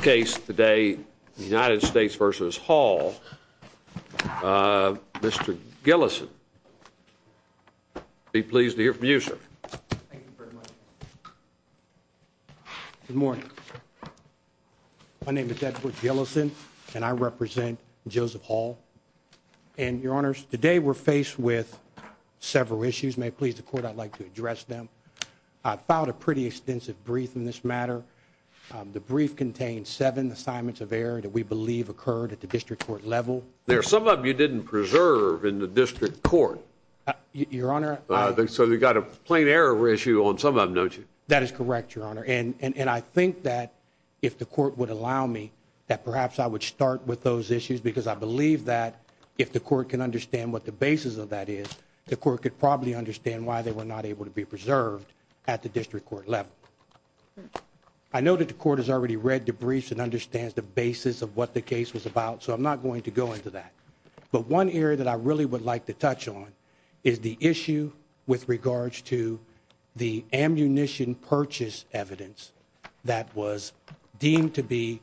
case today, the United States versus Hall. Uh, Mr Gillison. Be pleased to hear from you, sir. Good morning. My name is Edward Gillison and I represent Joseph Hall and your honors today were faced with several issues. May please the court. I'd like to address them. I found a pretty extensive brief in this matter. The brief contains seven assignments of error that we believe occurred at the district court level. There are some of you didn't preserve in the district court, your honor. So they got a plain error issue on some of them, don't you? That is correct, your honor. And I think that if the court would allow me that perhaps I would start with those issues because I believe that if the court can understand what the basis of that is, the court could probably understand why they were not able to be preserved at the district court level. I know that the court has already read the briefs and understands the basis of what the case was about. So I'm not going to go into that. But one area that I really would like to touch on is the issue with regards to the ammunition purchase evidence that was deemed to be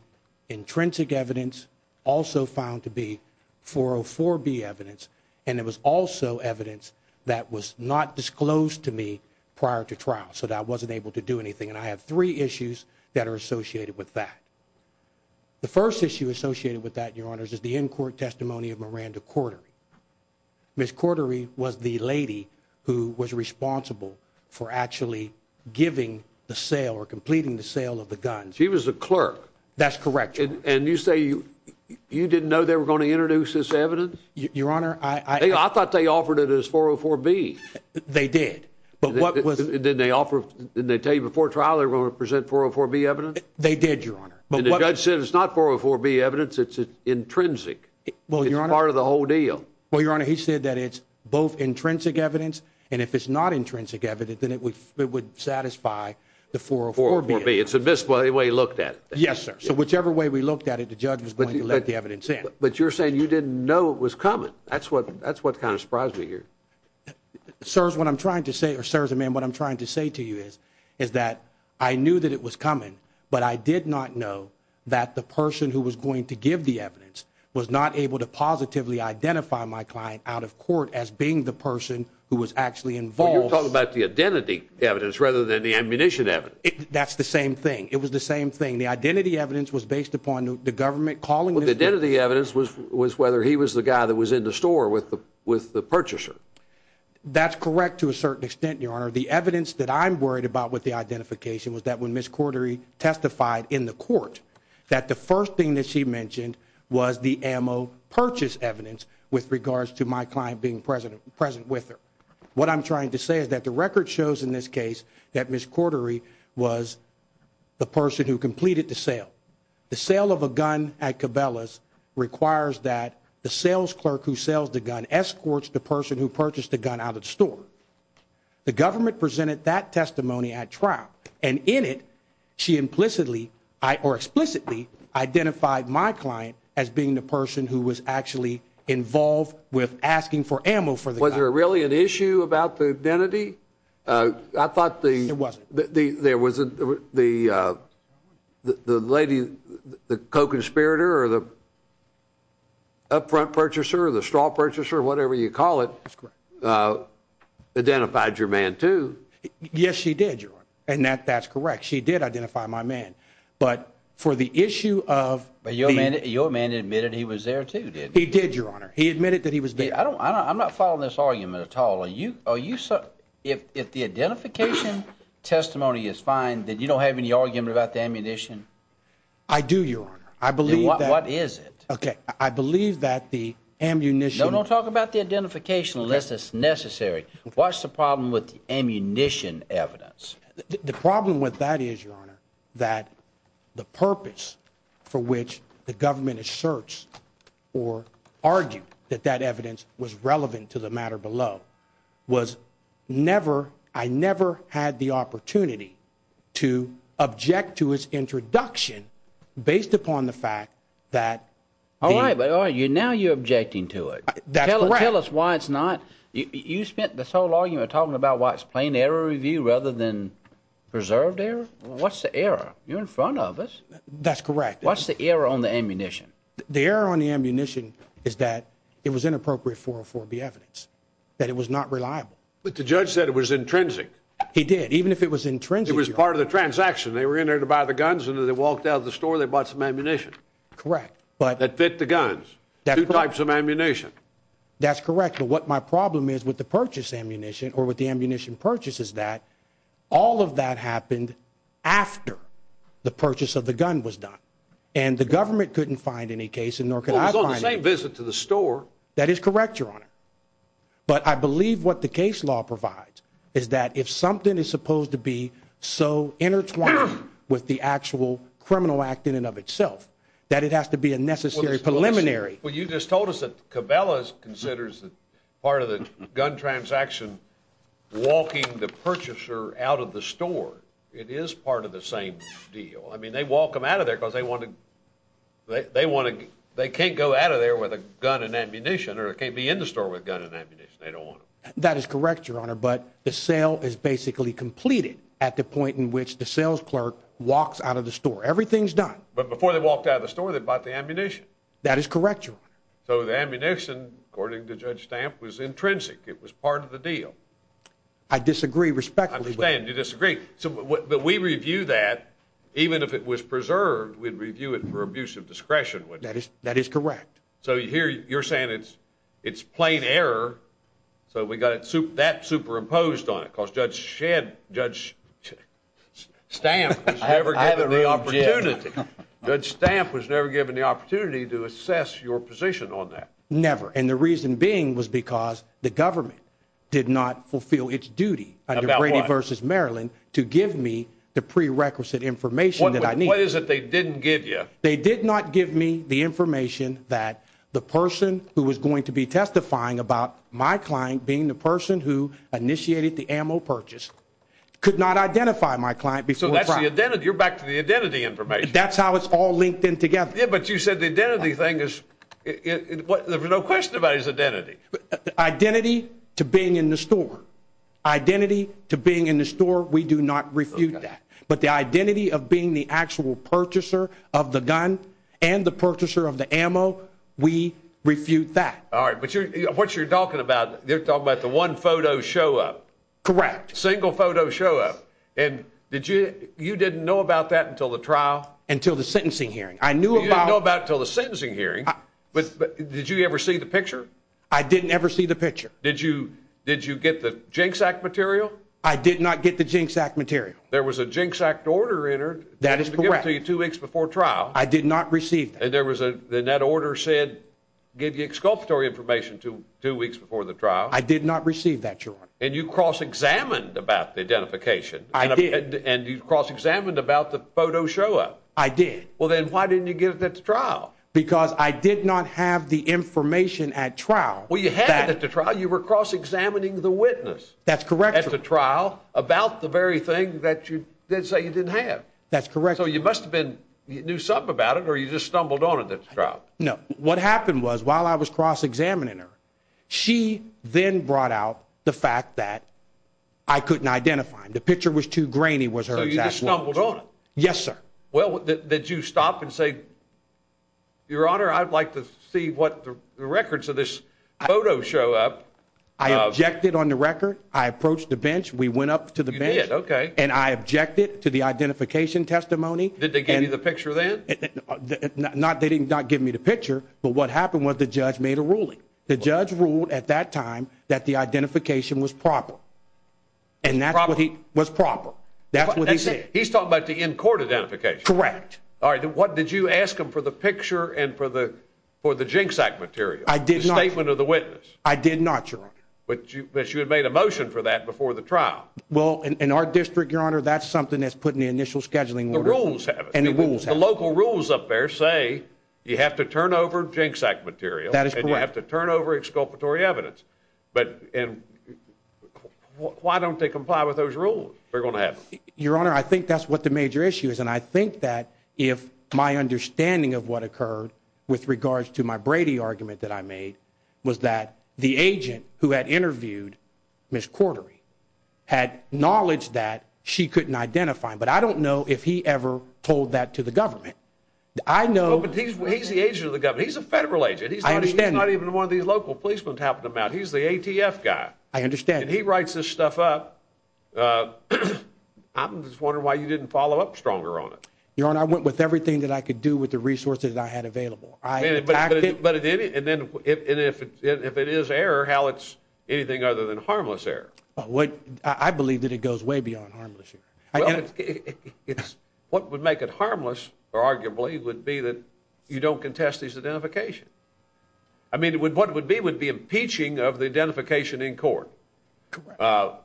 intrinsic evidence also found to be 404 B evidence. And it was also evidence that was not disclosed to me prior to trial. So that I wasn't able to do anything. And I have three issues that are associated with that. The first issue associated with that, your honor, is the in court testimony of Miranda quarter. Miss Cordery was the lady who was responsible for actually giving the sale or completing the sale of the guns. He was a clerk. That's correct. And you say you you didn't know they were going to introduce this evidence, your honor. I thought they offered it is 404 B. They did. But what was it? Did they offer? Didn't they tell you before trial? They're going to present 404 B evidence. They did, your honor. But the judge said it's not 404 B evidence. It's intrinsic. Well, you're part of the whole deal. Well, your honor, he said that it's both intrinsic evidence. And if it's not intrinsic evidence, then it would satisfy the 404 B. It's a display way looked at. Yes, sir. So whichever way we looked at it, the judge was going to let the evidence in. But you're saying you didn't know it was coming. That's what that's what kind of surprised me here, sirs. What I'm trying to say or serves a man. What I'm trying to say to you is, is that I knew that it was coming, but I did not know that the person who was going to give the evidence was not able to positively identify my client out of court as being the person who was actually involved. Talk about the identity evidence rather than the ammunition evidence. That's the same thing. It was the same thing. The identity evidence was based upon the government calling. The identity evidence was was whether he was the guy that was in the store with the with the purchaser. That's correct. To a certain extent, your honor, the evidence that I'm worried about with the identification was that when Miss Cordery testified in the court that the first thing that she mentioned was the ammo purchase evidence with regards to my client being president present with her. What I'm trying to say is that the record shows in this case that Miss Cordery was the person who completed the sale. The sale of a gun at Cabela's requires that the sales clerk who sells the gun escorts the person who purchased the gun out of the store. The government presented that testimony at trial and in it she implicitly or explicitly identified my client as being the person who was actually involved with asking for ammo for the was there really an issue about the identity? Uh, I thought the there was the, uh, the lady, the co conspirator or the upfront purchaser, the straw purchaser, whatever you call it, uh, identified your man to. Yes, she did. And that that's correct. She did identify my man. But for the issue of your man, your man admitted he was there too. He did, your honor. He admitted that he was. I don't I'm not following this argument at all. Are you, are you, if the identification testimony is fine, that you don't have any argument about the ammunition? I do, your honor. I believe that. What is it? Okay. I believe that the ammunition don't talk about the identification unless it's necessary. What's the problem with ammunition evidence? The problem with that is your honor that the purpose for which the government is searched or argue that that evidence was relevant to the matter below was never. I never had the opportunity to object to his introduction based upon the fact that all right, but are you now you're objecting to it? Tell us why it's not. You spent this whole argument talking about what's playing error review rather than preserved error. What's the error? You're in front of us. That's correct. What's the error on the ammunition? The error on the ammunition is that it was inappropriate for for the evidence that it was not reliable. But the judge said it was intrinsic. He did. Even if it was intrinsic, it was part of the transaction. They were in there to buy the guns and they walked out of the store. They bought some ammunition. Correct. But that fit the guns, two types of ammunition. That's correct. But what my problem is with the purchase ammunition or with the ammunition purchases that all of that happened after the purchase of the gun was done and the government couldn't find any case and nor can I visit to the store. That is correct, your honor. But I believe what the case law provides is that if something is supposed to be so intertwined with the actual criminal act in and of itself that it has to be a necessary preliminary. Well, you just told us that Cabela's considers that part of the gun transaction walking the purchaser out of the store. It is part of the same deal. I mean, they walk them out of there because they want to they want to. They can't go out of there with a gun and ammunition or it can't be in the store with gun and ammunition. They don't want that is correct, your honor. But the sale is basically completed at the point in which the sales clerk walks out of the store. Everything's done. But before they walked out of the store, they bought the ammunition. That is correct. So the ammunition, according to Judge Stamp, was intrinsic. It was part of the deal. I disagree respectfully. You disagree. So we review that even if it was preserved, we'd review it for abuse of discretion. That is that is correct. So here you're saying it's it's plain error. So we got it soup that superimposed on it because Judge Shed Judge Stamp never had the opportunity. Judge Stamp was never given the opportunity to assess your position on that. Never. And the reason being was because the government did not fulfill its duty. I don't know. Brady versus Maryland to give me the prerequisite information that I need. What is it they didn't give you? They did not give me the information that the person who was going to be testifying about my client being the person who initiated the ammo purchase could not identify my client before. That's the identity. You're back to the identity information. That's how it's all linked in together. But you said the identity thing is what? There's no question about his identity. Identity to being in the store. Identity to being in the store. We do not refute that. But the identity of being the actual purchaser of the gun and the purchaser of the ammo, we refute that. All right. But you're what you're talking about. They're talking about the one photo show up. Correct. Single photo show up. And did you? You didn't know about that until the trial until the sentencing hearing. I knew about till the sentencing hearing. But did you ever see the picture? I didn't ever see the picture. Did you? Did you get the jinx act material? I did not get the jinx act material. There was a jinx act order entered. That is correct. You two weeks before trial. I did not receive. And there was a net order said give you exculpatory information to two weeks before the trial. I did not receive that. And you cross examined about the identification. I did. And you cross examined about the photo show up. I did. Well, then why didn't you give it to trial? Because I did not have the information at trial. Well, you had to try. You were cross examining the witness. That's correct. At the trial about the very thing that you did say you didn't have. That's correct. So you must have been knew something about it. Or you just stumbled on it. That's right. No. What happened was while I was cross examining her, she then brought out the fact that I couldn't identify him. The picture was too grainy. Was her stumbled on. Yes, sir. Well, did you stop and say, your honor, I'd like to see what the records of this photo show up. I objected on the record. I approached the bench. We went up to the bed. Okay. And I objected to the identification testimony. Did they give you the picture then? Not they did not give me the picture. But what happened was the judge made a ruling. The judge ruled at that time that the identification was proper. And that's what he was proper. That's what he said. He's talking about the in court identification. Correct. All right. What did you ask him for the picture and for the for the jinx act material? I did not a statement of the witness. I did not. But you had made a motion for that before the trial. Well, in our district, your honor, that's something that's putting the initial scheduling rules and the rules, the local rules up there say you have to turn over jinx act material. That is correct to turn over exculpatory evidence. But and why don't they comply with those rules? We're gonna have your honor. I think that's what the major issue is. And I think that if my understanding of what occurred with regards to my brady argument that I made was that the agent who had interviewed Miss Quarterly had knowledge that she couldn't identify. But I don't know if he ever told that to the government. I know, but he's he's the agent of the government. He's a federal agent. He's not even one of these local policemen tapping them out. He's the A. T. F. Guy. I understand he writes this stuff up. Uh, I'm just wondering why you didn't follow up stronger on it. Your honor, I went with everything that I could do with the resources I had available. But if it is error, how it's anything other than harmless error. What? I believe that it goes way beyond harmless here. What would make it harmless arguably would be that you don't contest these identification. I mean, what would be would be impeaching of the uh,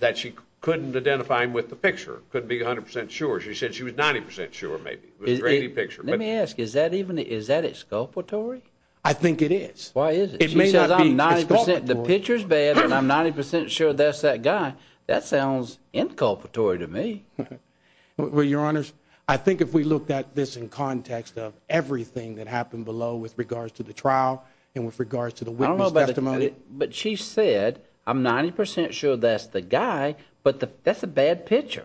that she couldn't identify him with the picture could be 100% sure. She said she was 90% sure. Maybe it was a picture. Let me ask. Is that even? Is that exculpatory? I think it is. Why is it? It may not be. The picture is bad and I'm 90% sure that's that guy. That sounds inculpatory to me. Well, your honors, I think if we looked at this in context of everything that happened below with regards to the trial and with regards to the witness testimony, but she said, I'm 90% sure that's the guy. But that's a bad picture.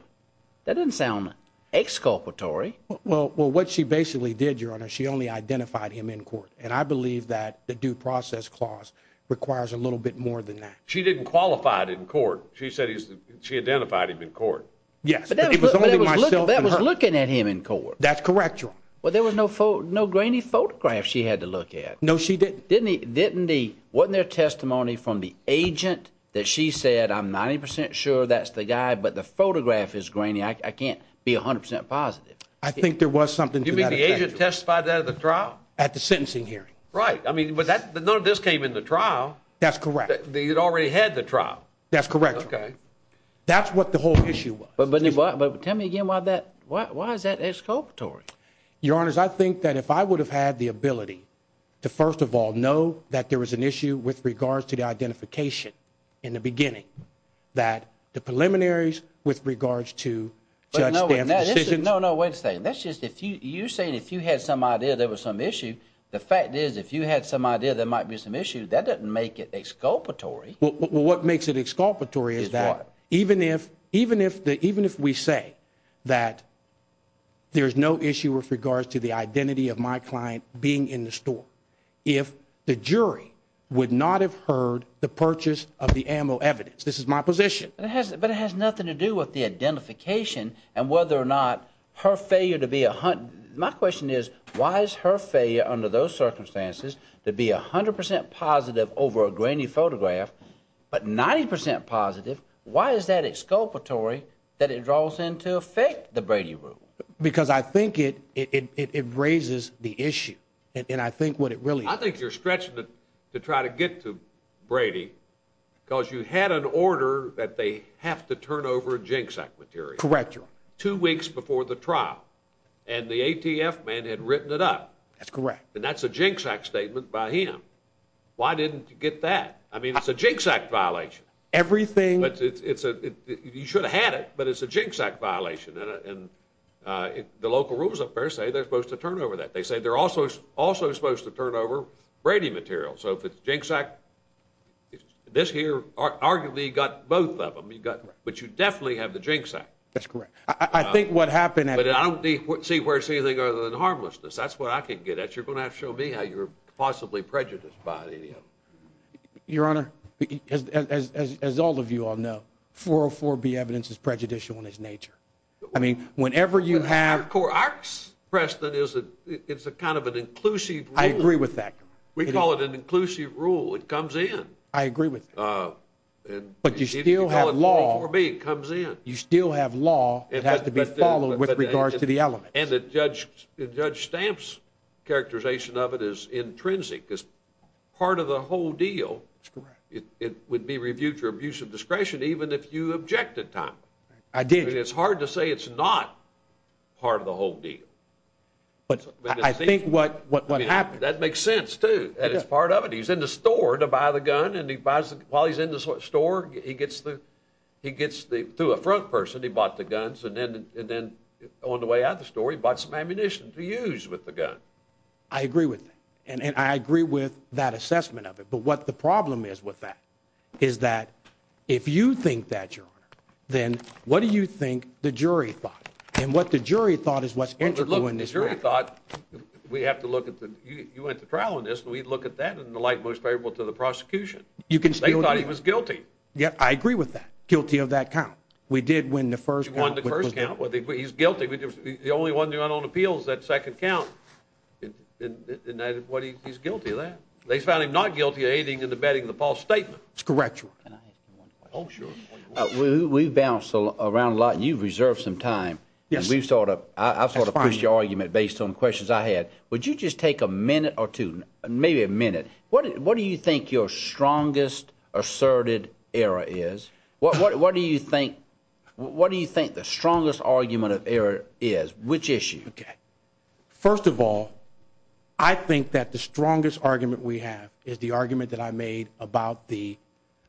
That didn't sound exculpatory. Well, what she basically did your honor, she only identified him in court. And I believe that the due process clause requires a little bit more than that. She didn't qualify it in court. She said she identified him in court. Yes, but that was looking at him in court. That's correct. Well, there was no, no grainy photographs she had to look at. No, she didn't. Didn't he? Wasn't there testimony from the agent that she said I'm 90% sure that's the guy. But the photograph is grainy. I can't be 100% positive. I think there was something to be the agent testified that the trial at the sentencing hearing, right? I mean, but that none of this came in the trial. That's correct. They had already had the trial. That's correct. Okay, that's what the whole issue was. But tell me again why that why is that exculpatory? Your honors, I think that if I would have had the ability to first of all know that there was an issue with regards to the identification in the beginning that the preliminaries with regards to no, no way to say that's just if you're saying if you had some idea there was some issue. The fact is, if you had some idea there might be some issue that doesn't make it exculpatory. What makes it exculpatory is that even if even if the even if we say that there is no issue with regards to the identity of my client being in the store, if the jury would not have heard the purchase of the ammo evidence, this is my position, but it has nothing to do with the identification and whether or not her failure to be a hunt. My question is, why is her failure under those circumstances to be 100% positive over a grainy photograph? But 90% positive. Why is that exculpatory that it draws into effect the Brady room? Because I think it it raises the issue and I think what it really I think you're stretching it to try to get to Brady because you had an order that they have to turn over a jinx act material. Correct. Two weeks before the trial and the ATF man had written it up. That's correct. And that's a jinx act statement by him. Why didn't you get that? I mean it's a jinx act violation. Everything. But it's a you should have had it but it's a jinx act violation and the local rules of affairs say they're supposed to turn over that. They say they're also also supposed to turn over Brady material. So if it's a jinx act, this here arguably got both of them. You got, but you definitely have the jinx act. That's correct. I think what happened, but I don't see where it's anything other than harmlessness. That's what I can get at. You're gonna have to show me how you're possibly prejudiced by any of them. Your I mean whenever you have. Cor, our precedent is that it's a kind of an inclusive. I agree with that. We call it an inclusive rule. It comes in. I agree with you. But you still have law. It comes in. You still have law. It has to be followed with regards to the element. And the judge, Judge Stamps characterization of it is intrinsic. It's part of the whole deal. It would be hard to say it's not part of the whole deal. But I think what happened, that makes sense to part of it. He's in the store to buy the gun and he buys while he's in the store, he gets the he gets the to a front person. He bought the guns and then and then on the way out the story, bought some ammunition to use with the gun. I agree with and I agree with that assessment of it. But what the problem is with that is that if you think that your then what do you think the jury thought and what the jury thought is what's going to look in this jury thought we have to look at the you went to trial in this and we'd look at that in the light most favorable to the prosecution. You can say you thought he was guilty. Yeah, I agree with that. Guilty of that count. We did win the first one. The first count. Well, he's guilty. The only one who went on appeals that second count and what he's guilty of that. They found him not guilty of aiding and abetting the false statement. It's correct. Can I ask you Oh, sure. We've bounced around a lot. You've reserved some time. We've thought of, I thought of your argument based on questions I had. Would you just take a minute or two? Maybe a minute. What do you think your strongest asserted error is? What do you think? What do you think the strongest argument of error is? Which issue? Okay. First of all, I think that the strongest argument we have is the argument that I made about the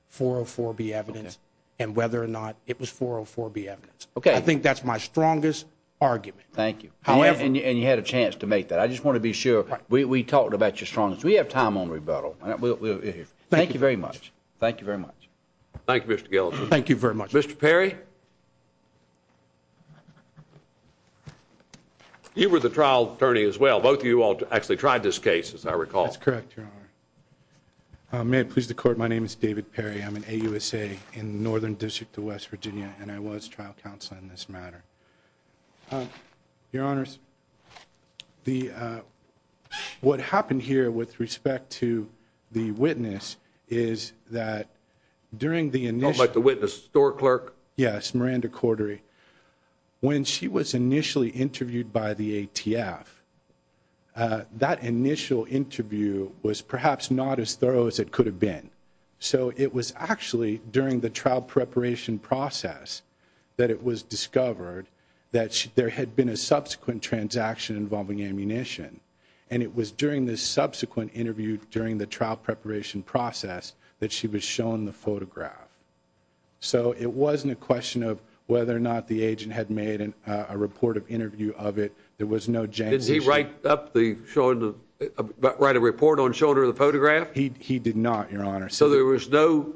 404 B. Evidence and whether or not it was 404 B. Evidence. Okay, I think that's my strongest argument. Thank you. However, and you had a chance to make that. I just want to be sure we talked about your strongest. We have time on rebuttal. Thank you very much. Thank you very much. Thank you, Mr Gill. Thank you very much, Mr Perry. You were the trial attorney as well. Both of you all actually tried this case. As I recall, that's correct. Your honor. May it please the court. My name is David Perry. I'm an A. U. S. A. In Northern District of West Virginia and I was trial counsel in this matter. Your honors, the uh what happened here with respect to the witness is that during the initial like the witness store clerk. Yes. Miranda Cordray. When she was perhaps not as thorough as it could have been. So it was actually during the trial preparation process that it was discovered that there had been a subsequent transaction involving ammunition. And it was during this subsequent interview during the trial preparation process that she was shown the photograph. So it wasn't a question of whether or not the agent had made a report of interview of it. There was no James. He right up the showing write a report on shoulder of the photograph. He did not, your honor. So there was no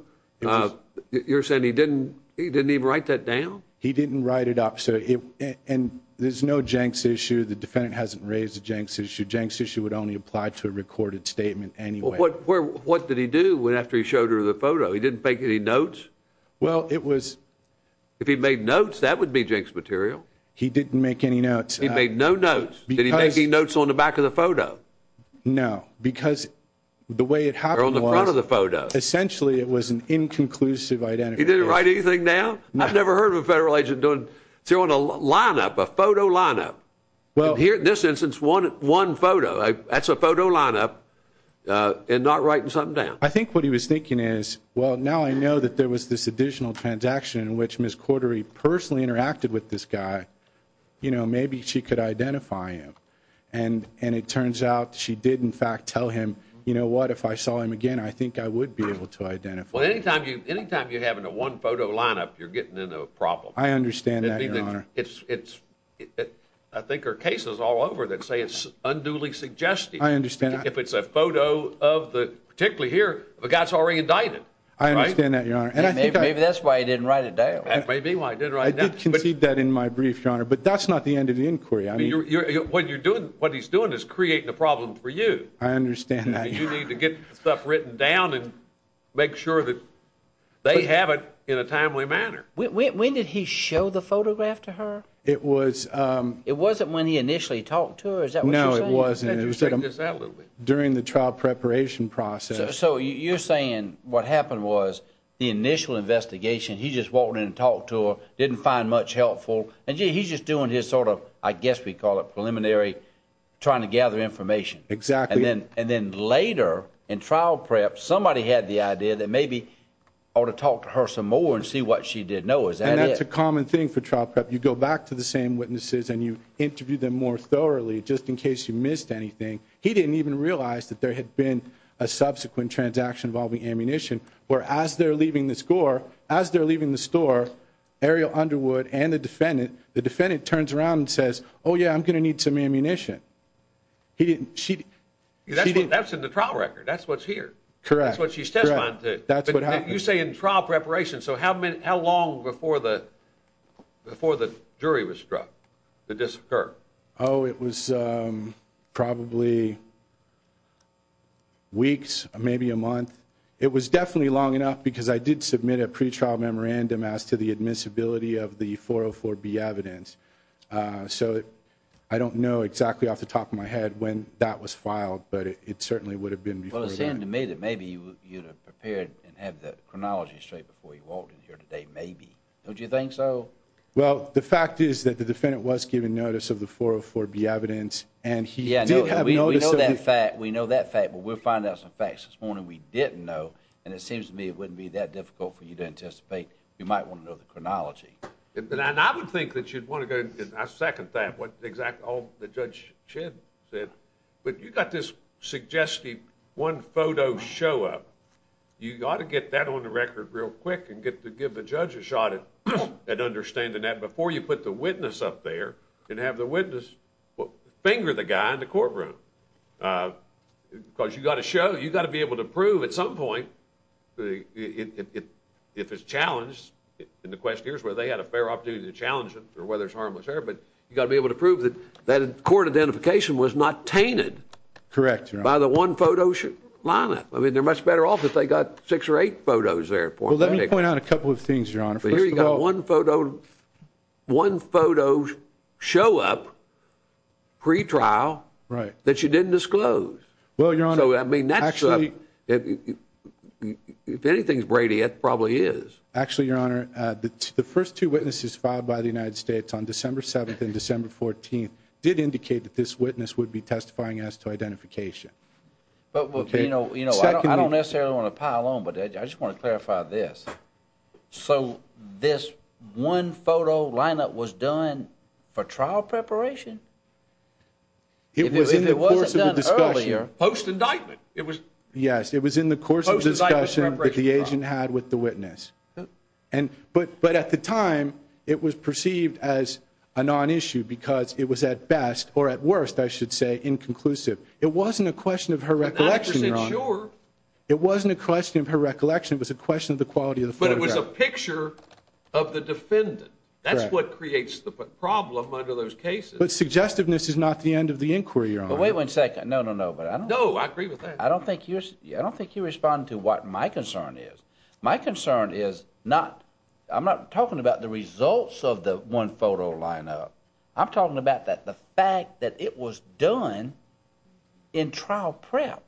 you're saying he didn't, he didn't even write that down. He didn't write it up. So and there's no Jenks issue. The defendant hasn't raised the Jenks issue. Jenks issue would only apply to a recorded statement anyway. What did he do after he showed her the photo? He didn't make any notes. Well, it was if he made notes, that would be Jake's material. He didn't make any notes. He the way it happened on the front of the photo. Essentially, it was an inconclusive identity. Didn't write anything down. I've never heard of a federal agent doing to on a lineup, a photo lineup. Well, here, this instance, 11 photo. That's a photo lineup. Uh, and not writing something down. I think what he was thinking is, well, now I know that there was this additional transaction in which Miss Quartery personally interacted with this guy. You know, maybe she could identify him and and it turns out she did in fact tell him. You know what? If I saw him again, I think I would be able to identify anytime. Anytime you're having a one photo lineup, you're getting into a problem. I understand that it's I think our cases all over that say it's unduly suggesting I understand if it's a photo of the particularly here, the guy's already indicted. I understand that, Your Honor. And I think maybe that's why I didn't write it down. Maybe I did right now. But keep that in my brief, Your Honor. But that's not the end of the inquiry. I mean, what you're doing, what he's doing is creating a problem for you. I understand that you need to get stuff written down and make sure that they have it in a timely manner. When did he show the photograph to her? It was, um, it wasn't when he initially talked to her. Is that no, it wasn't. It was during the trial preparation process. So you're saying what happened was the initial investigation. He just walked in and talked to her, didn't find much helpful. And he's just doing his sort of, I guess we call it preliminary trying to gather information. Exactly. And then later in trial prep, somebody had the idea that maybe ought to talk to her some more and see what she did. No, is that it's a common thing for trial prep. You go back to the same witnesses and you interview them more thoroughly just in case you missed anything. He didn't even realize that there had been a subsequent transaction involving ammunition. Whereas they're leaving the score as they're leaving the store, Ariel Underwood and the defendant, the defendant turns around and says, Oh, yeah, I'm gonna need some ammunition. He didn't. She, that's in the trial record. That's what's here. Correct. That's what she said. That's what you say in trial preparation. So how many, how long before the before the jury was struck to disoccur? Oh, it was, um, probably weeks, maybe a month. It was definitely long enough because I did submit a memorandum as to the admissibility of the 404 B evidence. Uh, so I don't know exactly off the top of my head when that was filed, but it certainly would have been. Well, it seemed to me that maybe you would have prepared and have the chronology straight before you walked in here today. Maybe. Don't you think so? Well, the fact is that the defendant was given notice of the 404 B evidence and he did have that fact. We know that fact, but we'll find out some facts this morning. We didn't know. And it seems to me it wouldn't be that difficult for you to anticipate. You might want to know the chronology. And I would think that you'd want to go. I second that. What exactly all the judge should said. But you got this suggestive one photo show up. You gotta get that on the record real quick and get to give the judge a shot at understanding that before you put the witness up there and have the witness finger the guy in the courtroom. Uh, because you gotta show you gotta be able to prove at some point if it's challenged in the question here's where they had a fair opportunity to challenge it or whether it's harmless there. But you gotta be able to prove that that court identification was not tainted. Correct. By the one photo should line up. I mean, they're much better off if they got six or eight photos there. Let me point out a couple of things. You're on here. You got one photo, one photo show up pre trial, right? That you didn't disclose. Well, you're on. I mean, actually, if anything's Brady, it probably is actually your honor. The first two witnesses filed by the United States on December 7th and December 14th did indicate that this witness would be testifying as to identification. But, you know, I don't necessarily want to pile on, but I just want to clarify this. So this one photo lineup was done for trial preparation. It was in the course of the discussion post indictment. It was. Yes, it was in the course of discussion that the agent had with the witness. And but but at the time it was perceived as a non issue because it was at best or at worst, I should say inconclusive. It wasn't a question of her recollection. Sure, it wasn't a question of her recollection. It was a question of the quality of but it was a picture of the defendant. That's what creates the problem under those cases. But suggestiveness is not the end of the inquiry. Wait one second. No, no, no. But I don't know. I agree with that. I don't think you're I don't think you respond to what my concern is. My concern is not. I'm not talking about the results of the one photo lineup. I'm talking about that the fact that it was done in trial prep.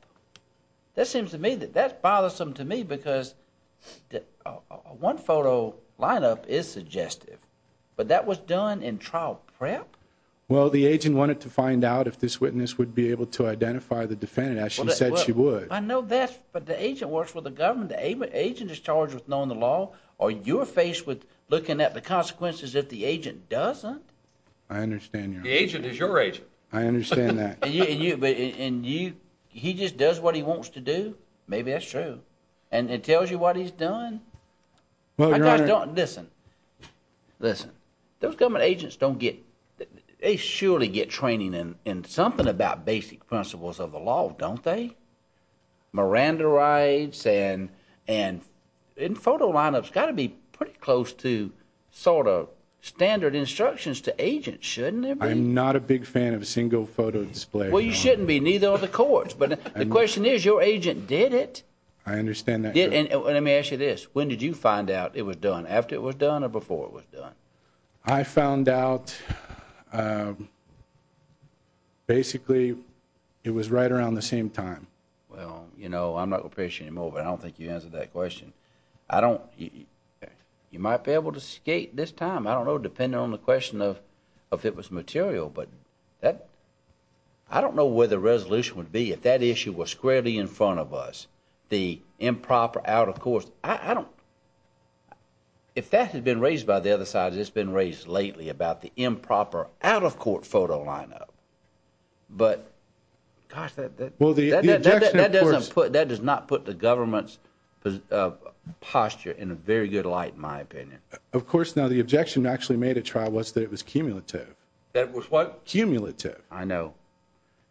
That seems to me that that's bothersome to me because one photo lineup is suggestive, but that was done in trial prep. Well, the agent wanted to find out if this witness would be able to identify the defendant as she said she would. I know that, but the agent works with the government agent is charged with knowing the law or you're faced with looking at the consequences. If the agent doesn't, I understand the agent is your age. I understand that. And you and you, he just does what he wants to do. Maybe that's true. And it tells you what he's done. Well, I don't listen. Listen, those government agents don't get they surely get training in in something about basic principles of the law, don't they? Miranda rights and and in photo lineups got to be pretty close to sort of standard instructions to agents, shouldn't it? I'm not a big fan of a single photo display. Well, you did it. I understand that. And let me ask you this. When did you find out it was done after it was done or before it was done? I found out, uh, basically it was right around the same time. Well, you know, I'm not appreciating him over. I don't think you answered that question. I don't. You might be able to skate this time. I don't know, depending on the question of if it was material, but that I don't know where the resolution would be if that issue was squarely in front of us. The improper out, of course, I don't if that had been raised by the other side, it's been raised lately about the improper out of court photo lineup. But gosh, that well, the that doesn't put that does not put the government's posture in a very good light, in my opinion. Of course. Now the objection actually made a trial was that it was cumulative. That was what? Cumulative. I know.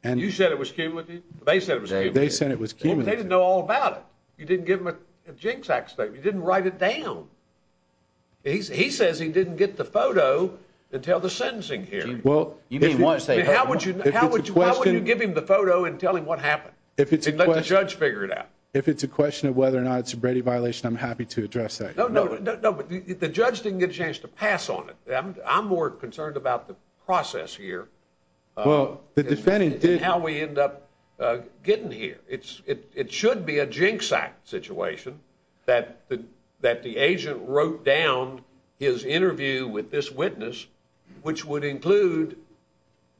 And you said it was came with they said it was. They said it was. They didn't know all about it. You didn't give him a jinx accident. You didn't write it down. He says he didn't get the photo until the sentencing here. Well, you didn't want to say how would you? How would you give him the photo and tell him what happened? If it's a judge, figure it out. If it's a question of whether or not it's a Brady violation, I'm happy to address that. No, no, no, but the judge didn't get a chance to pass on it. I'm more concerned about the process here. Well, the defending did how we end up getting here. It's it should be a jinx act situation that that the agent wrote down his interview with this witness, which would include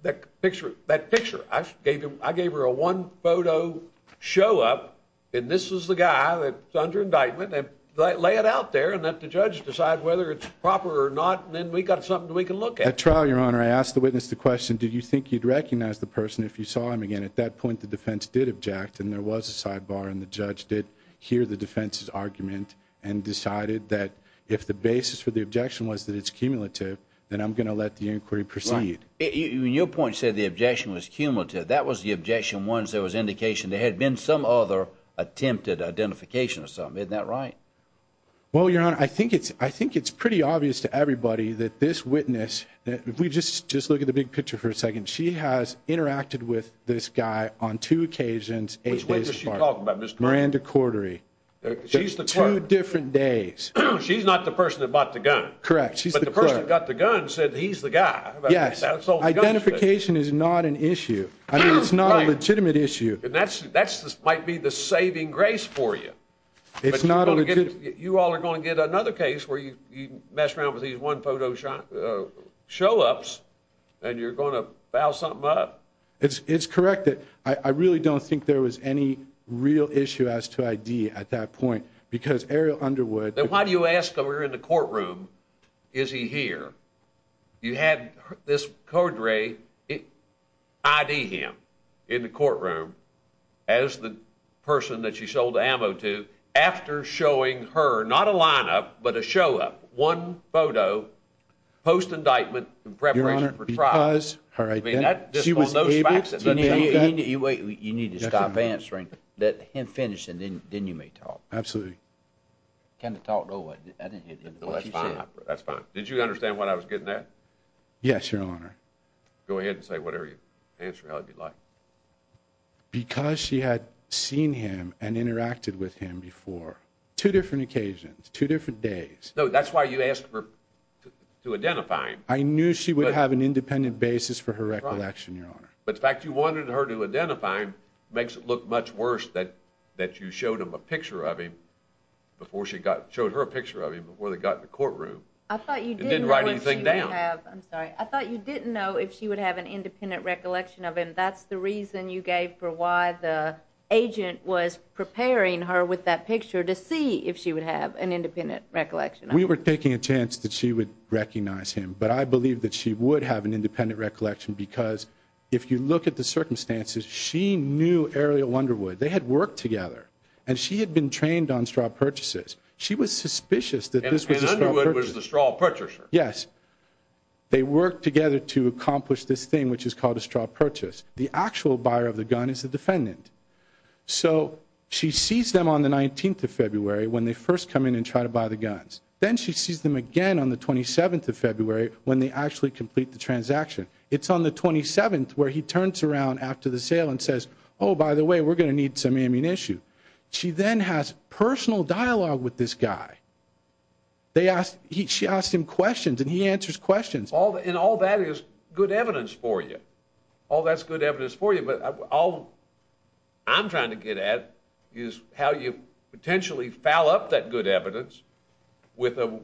that picture. That picture I gave him. I gave her a one photo show up, and this is the guy that under indictment and lay it out there and let the judge decide whether it's proper or not. And then we witnessed the question. Do you think you'd recognize the person if you saw him again? At that point, the defense did object, and there was a sidebar, and the judge did hear the defense's argument and decided that if the basis for the objection was that it's cumulative, then I'm gonna let the inquiry proceed. Your point said the objection was cumulative. That was the objection. Once there was indication there had been some other attempted identification or something. Isn't that right? Well, your honor, I think it's I think it's pretty obvious to everybody that this witness that we just just look at the big picture for a second. She has interacted with this guy on two occasions. Miranda Cordery. She's the two different days. She's not the person that bought the gun, correct? She's the person that got the gun said he's the guy. Yes. Identification is not an issue. I mean, it's not a legitimate issue, and that's that's this might be the saving grace for you. It's not. You all are gonna get another case where you mess around with these one photo shot show ups and you're gonna bow something up. It's correct that I really don't think there was any real issue as to I. D. At that point, because Ariel Underwood, then why do you ask? We're in the courtroom. Is he here? You had this corduroy ID him in the courtroom as the person that she sold ammo to after showing her not a lineup, but a show up one photo post indictment in preparation for trials. All right, she was able to wait. You need to stop answering that him finishing. Then you may talk. Absolutely. Kind of talked away. That's fine. That's fine. Did you understand what I was getting at? Yes, Your Honor. Go ahead and say whatever you answer. How would you like because she had seen him and interacted with him before two different occasions, two different days. No, that's why you asked her to identify. I knew she would have an independent basis for her recollection, Your Honor. But the fact you wanted her to identify him makes it look much worse that that you showed him a picture of him before she got showed her a picture of him before they got in the courtroom. I thought you didn't write anything down. I'm sorry. I thought you didn't know if she would have an independent recollection of him. That's the reason you gave for why the agent was preparing her with that picture to see if she would have an independent recollection. We were taking a chance that she would recognize him. But I believe that she would have an independent recollection. Because if you look at the circumstances, she knew Ariel Wonderwood. They had worked together, and she had been trained on straw purchases. She was suspicious that this was the straw purchaser. Yes, they worked together to accomplish this thing, which is called a straw purchase. The actual buyer of the gun is the defendant. So she sees them on the 19th of February, when they first come in and try to buy the guns. Then she sees them again on the 27th of February, when they actually complete the transaction. It's on the 27th, where he turns around after the sale and says, Oh, by the way, we're gonna need some amine issue. She then has personal dialogue with this guy. They asked. She asked him questions, and he answers questions. All in all, that is good evidence for you. All that's good evidence for you. But all I'm trying to get at is how you potentially foul up that good evidence with a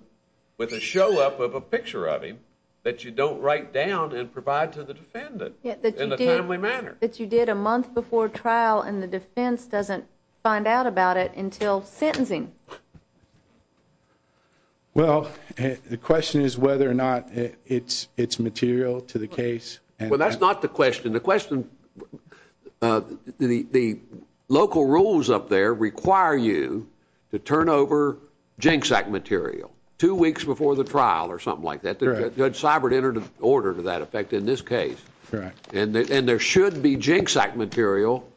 with a show up of a picture of him that you don't write down and provide to the defendant in a timely manner that you did a month before trial, and the defense doesn't find out about it until sentencing. Yeah. Well, the question is whether or not it's it's material to the case. Well, that's not the question. The question. Uh, the local rules up there require you to turn over jinx act material two weeks before the trial or something like that. Judge Cybert entered order to that effect in this case, and there should be jinx act material.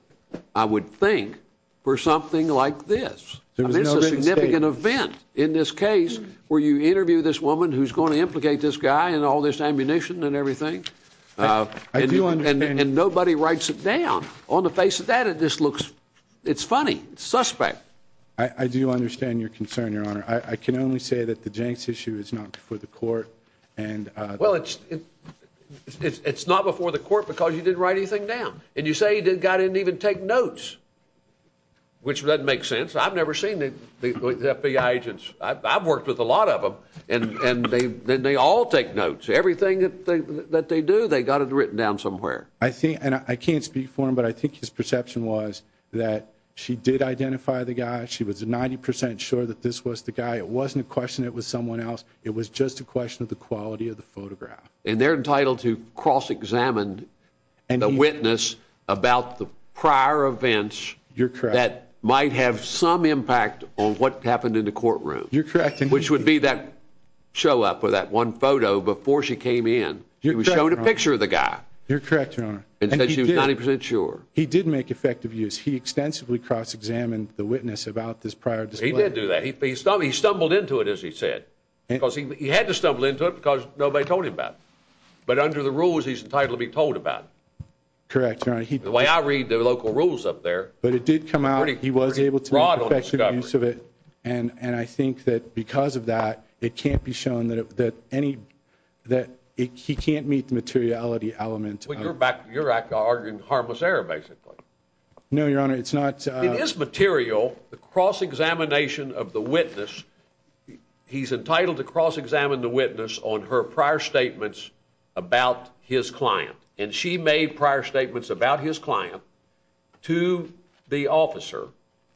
I would think for something like this. There is a significant event in this case where you interview this woman who's gonna implicate this guy and all this ammunition and everything. Uh, I do understand, and nobody writes it down on the face of that. It just looks it's funny suspect. I do understand your concern, Your Honor. I can only say that the jinx issue is not for the court. And, uh, well, it's it's it's not before the court because you didn't write anything down. And you say you did God didn't even take notes, which doesn't make sense. I've never seen the FBI agents. I've worked with a lot of them, and they all take notes. Everything that they do, they got it written down somewhere, I think, and I can't speak for him. But I think his perception was that she did identify the guy. She was 90% sure that this was the guy. It wasn't a question. It was someone else. It was just a question of the quality of the photograph, and they're entitled to cross examined and witness about the prior events. You're correct. That might have some impact on what happened in the courtroom. You're correct. And which would be that show up with that one photo before she came in. You're showing a picture of the guy. You're correct, Your Honor. And she was 90% sure he did make effective use. He extensively cross examined the witness about this prior. He did do that. He stopped. He stumbled into it, as he said, because he had to stumble into it because nobody told him about. But under the rules, he's entitled to be told about. Correct. The way I read the local rules up there, but it did come out. He was able to use of it, and I think that because of that, it can't be shown that any that he can't meet the materiality element. You're arguing harmless error, basically. No, Your Honor. It's not. It is material. The cross examination of the witness. He's entitled to cross examine the witness on her prior statements about his client, and she made prior statements about his client to the officer.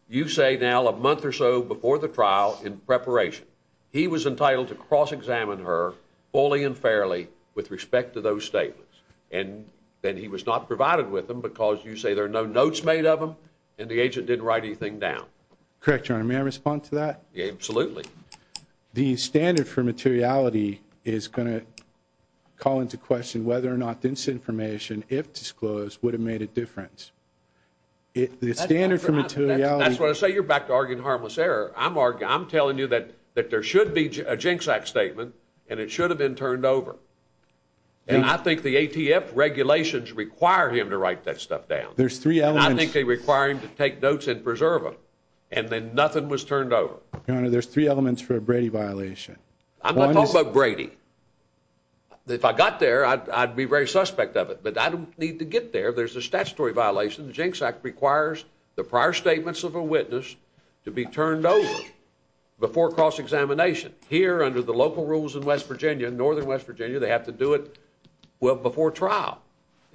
You say now a month or so before the trial in preparation, he was entitled to cross examine her fully and fairly with respect to those statements. And then he was not provided with them because you say there are no notes made of him and the agent didn't write anything down. Correct. Your Honor. May I respond to that? Absolutely. The standard for materiality is going to call into question whether or not this information, if disclosed, would have made a difference. It's standard for materiality. That's what I say. You're back to arguing harmless error. I'm arguing. I'm telling you that that there should be a jinx act statement, and it should have been turned over. And I think the ATF regulations require him to write that stuff down. There's three elements. I think they require him to take notes and preserve them. And then nothing was turned over. Your Honor. There's three elements for a Brady violation. I'm not talking about Brady. If I got there, I'd be very suspect of it, but I don't need to get there. There's a statutory violation. The Jinx Act requires the prior statements of a witness to be turned over before cross examination here under the local rules in West Virginia and northern West Virginia. They have to do it well before trial,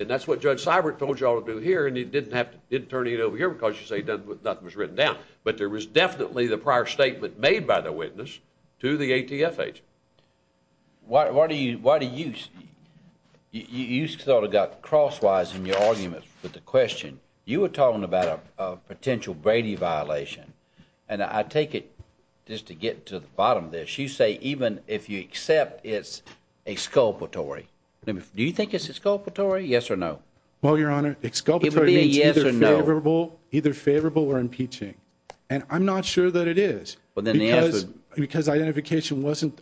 and that's what Judge Cybert told y'all to do here. And he didn't have to turn it over here because you say nothing was written down. But there was definitely the prior statement made by the witness to the ATF agent. Why? Why do you? Why do you? You sort of got crosswise in your argument with the question. You were talking about a potential Brady violation, and I take it just to get to the bottom of this. You say even if you accept it's a sculptor Tori, do you think it's a sculptor Tori? Yes or no? Well, your and I'm not sure that it is because identification wasn't.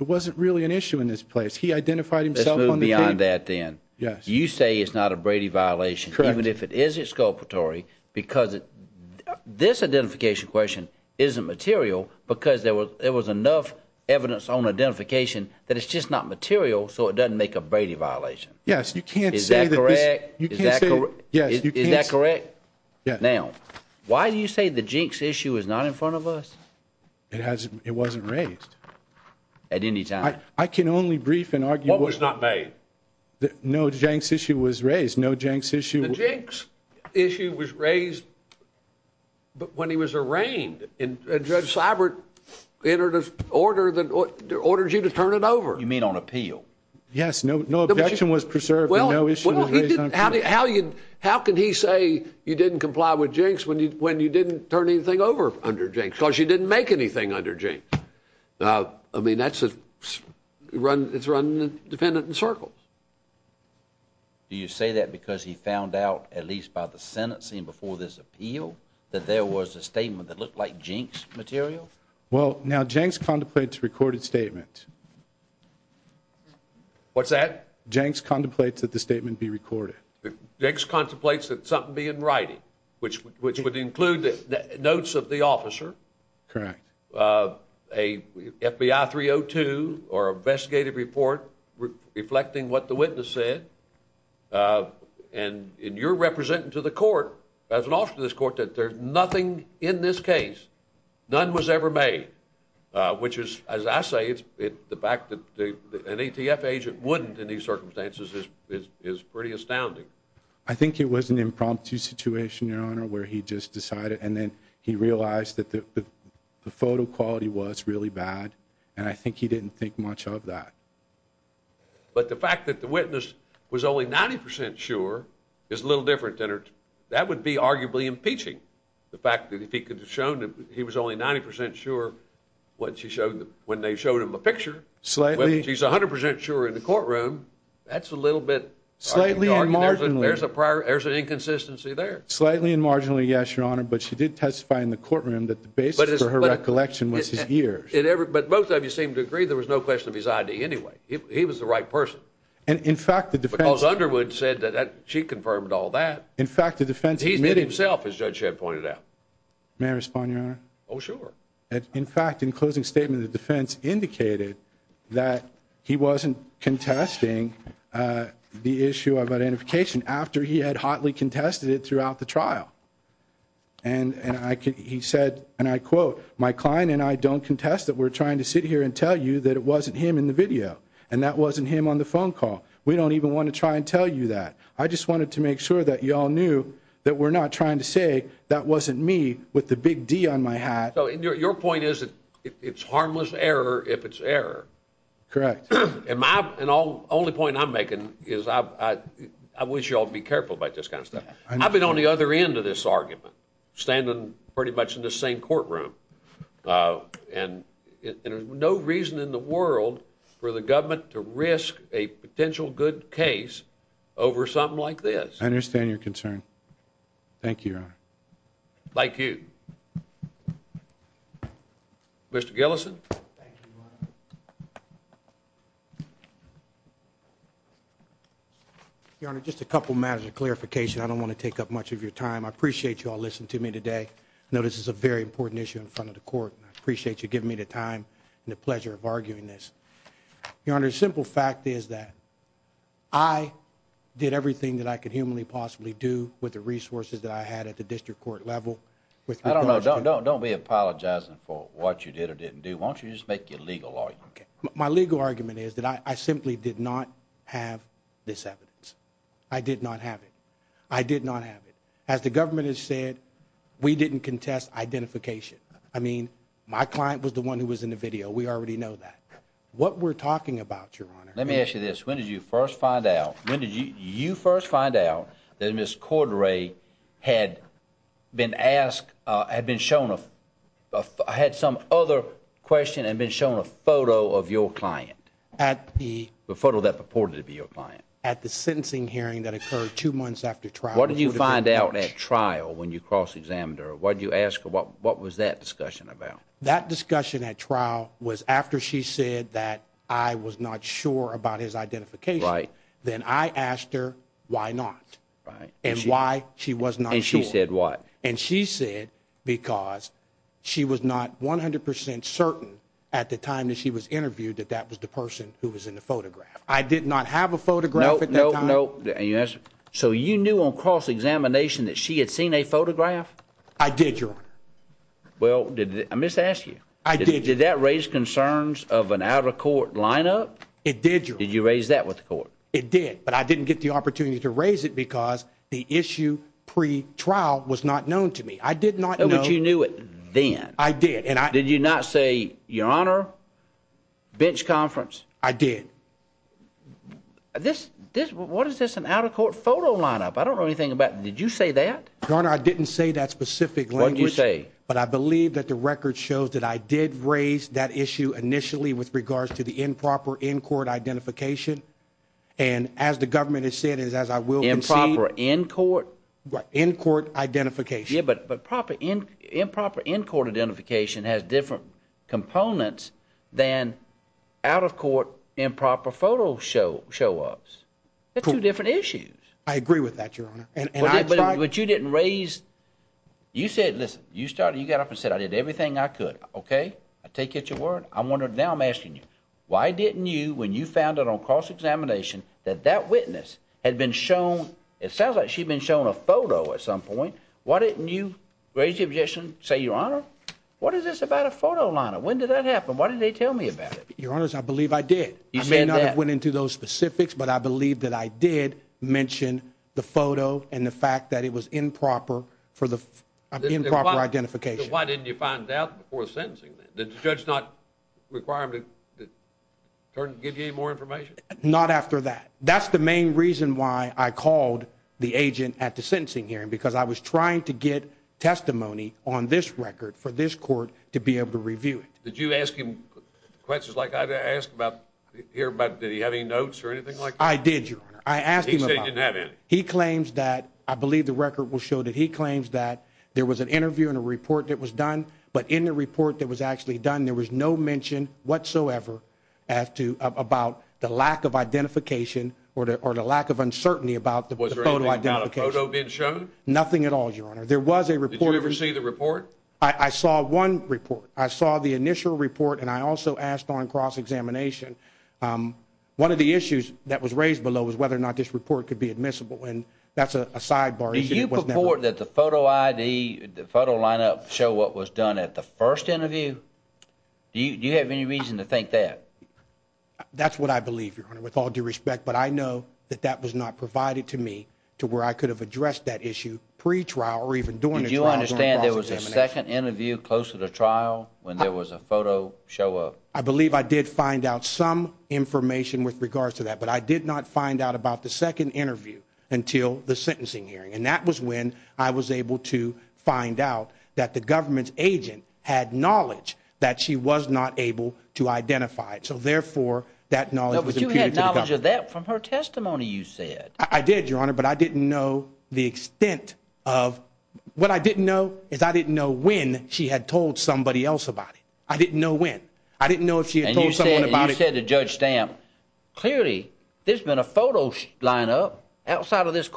It wasn't really an issue in this place. He identified himself on the beyond that. Then you say it's not a Brady violation, even if it is. It's sculptor Tori because this identification question isn't material because there was enough evidence on identification that it's just not material. So it doesn't make a Brady violation. Yes, you can't. Is that correct? Yes. Is that correct? Now, why do you say the jinx issue is not in front of us? It hasn't. It wasn't raised at any time. I can only brief and argue what was not made. No, Jenks issue was raised. No, Jenks issue. Jenks issue was raised. But when he was arraigned in Judge Cybert, they entered an order that ordered you to turn it over. You mean on appeal? Yes. No, no objection was preserved. Well, how do you? How can he say you didn't comply with jinx when you didn't turn anything over under jinx because you didn't make anything under jinx? I mean, that's a run. It's run dependent in circles. Do you say that because he found out, at least by the Senate scene before this appeal, that there was a statement that looked like jinx material? Well, now Jenks contemplates recorded statement. What's that? Jenks contemplates that the statement be recorded. Jenks includes notes of the officer. Correct. Uh, a FBI 302 or investigative report reflecting what the witness said. Uh, and you're representing to the court as an officer of this court that there's nothing in this case. None was ever made, which is, as I say, it's the fact that an A. T. F. Agent wouldn't in these circumstances is pretty astounding. I think it was an impromptu situation, your honor, where he just decided. And then he realized that the photo quality was really bad, and I think he didn't think much of that. But the fact that the witness was only 90% sure is a little different than her. That would be arguably impeaching. The fact that if he could have shown that he was only 90% sure what she showed them when they showed him a picture slightly, she's 100% sure in the courtroom. That's a little bit slightly margin. There's a prior. There's an inconsistency there. Slightly and marginally. Yes, your honor. But she did testify in the courtroom that the base for her recollection was his ear. But both of you seem to agree there was no question of his I d. Anyway, he was the right person. And in fact, the defense Underwood said that she confirmed all that. In fact, the defense himself, as Judge had pointed out, may respond, your honor. Oh, sure. In fact, in closing statement, the defense indicated that he wasn't contesting, uh, the issue of identification after he had hotly contested it throughout the trial. And and I could he said, and I quote, My client and I don't contest that. We're trying to sit here and tell you that it wasn't him in the video, and that wasn't him on the phone call. We don't even want to try and tell you that. I just wanted to make sure that you all knew that we're not trying to say that wasn't me with the big D on my hat. Your point is that it's harmless error if it's error. Correct. And my only point I'm making is I wish you all be careful about this kind of stuff. I've been on the other end of this argument, standing pretty much in the same courtroom. Uh, and there's no reason in the world for the government to risk a potential good case over something like this. I understand your concern. Thank you, Your Honor. Like Gillison. Your Honor. Just a couple matters of clarification. I don't want to take up much of your time. I appreciate you all listen to me today. Notice is a very important issue in front of the court. Appreciate you giving me the time and the pleasure of arguing this. Your Honor. Simple fact is that I did everything that I could humanly possibly do with the resources that I had at the district court level with. I don't know. Don't don't don't be apologizing for what you did or didn't do. Won't you just make your legal law? Okay. My legal argument is that I simply did not have this evidence. I did not have it. I did not have it. As the government has said, we didn't contest identification. I mean, my client was the one who was in the video. We already know that what we're talking about. Your Honor. Let me ask you this. When did you first find out? When did you first find out that Miss Cordray had been asked, had been shown off, had some other question and been shown a photo of your client at the photo that purported to be your client at the sentencing hearing that occurred two months after trial? What did you find out at trial when you cross examined her? Why do you ask? What was that discussion about? That discussion at trial was after she said that I was not sure about his identification. Then I asked her why not and why she was not. And she said what? And she said because she was not 100% certain at the time that she was interviewed that that was the person who was in the photograph. I did not have a photograph at that time. So you knew on cross examination that she had seen a photograph? I did, Your Honor. Well, did I miss ask you? I did. Did that raise concerns of an out of court lineup? It did. Did you raise that with the court? It did, but I didn't get the opportunity to raise it because the issue pre trial was not known to me. I did not know what you knew it. Then I did. And did you not say, Your Honor, bench conference? I did this. What is this? An out of court photo lineup? I don't know anything about. Did you say that, Your Honor? I didn't say that specific when you say, but I believe that the record shows that I did raise that issue initially with regards to the improper in court identification. And as the government has said is, as I will, improper in court in court identification. But but proper in improper in court identification has different components than out of court improper photo show show ups. That's two different issues. I agree with that, Your Honor. But you didn't raise. You said, Listen, you started. You got up and said, I did everything I could. Okay, I take it. Your word. I wonder now I'm asking you why didn't you when you found it on cross examination that that witness had been shown? It sounds like she's been shown a photo at some point. Why didn't you raise the objection? Say, Your Honor, what is this about a photo line? When did that happen? Why did they tell me about it? Your honors, I believe I did. You may not have went into those specifics, but I believe that I did mention the photo and the fact that it was and you find out before sentencing that the judge not require him to give you more information. Not after that. That's the main reason why I called the agent at the sentencing hearing, because I was trying to get testimony on this record for this court to be able to review it. Did you ask him questions like I asked about here? But did he have any notes or anything like I did, Your Honor? I asked him if he claims that I believe the record will show that he claims that there was an interview and a report that was done. But in the report that was actually done, there was no mention whatsoever as to about the lack of identification or or the lack of uncertainty about the photo. I got a photo being shown. Nothing at all. Your honor. There was a report. You ever see the report? I saw one report. I saw the initial report and I also asked on cross examination. Um, one of the issues that was raised below is whether or not this report could be admissible. And that's a sidebar that the photo ID photo lineup show what was done at the first interview. Do you have any reason to think that? That's what I believe, Your Honor, with all due respect. But I know that that was not provided to me to where I could have addressed that issue pre trial or even doing it. You understand there was a second interview close to the trial when there was a photo show up. I believe I did find out some information with regards to that, but I did not find out about the second interview until the sentencing hearing. And that was when I was able to find out that the government agent had knowledge that she was not able to identify it. So therefore, that knowledge of that from her testimony, you said I did, Your Honor. But I didn't know the extent of what I didn't know is I didn't know when she had told somebody else about it. I didn't know when I didn't know if she had told someone about it, said the judge stamp. Clearly, there's been a photo line up outside of this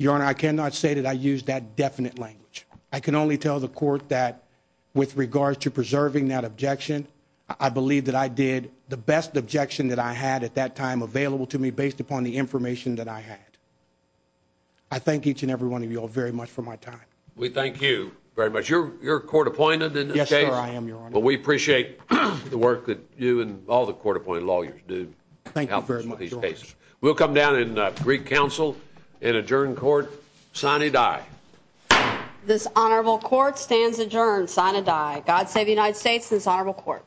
Your Honor, I cannot say that I used that definite language. I can only tell the court that with regards to preserving that objection, I believe that I did the best objection that I had at that time available to me based upon the information that I had. I think each and every one of you are very much for my time. We thank you very much. You're court appointed. Yes, sir. I am. But we appreciate the work that you and all the court appointed lawyers do. Thank you very much. We'll come down in Greek Council in adjourn court. Sonny die. This honorable court stands adjourned. Sign a die. God save the United States. This honorable court.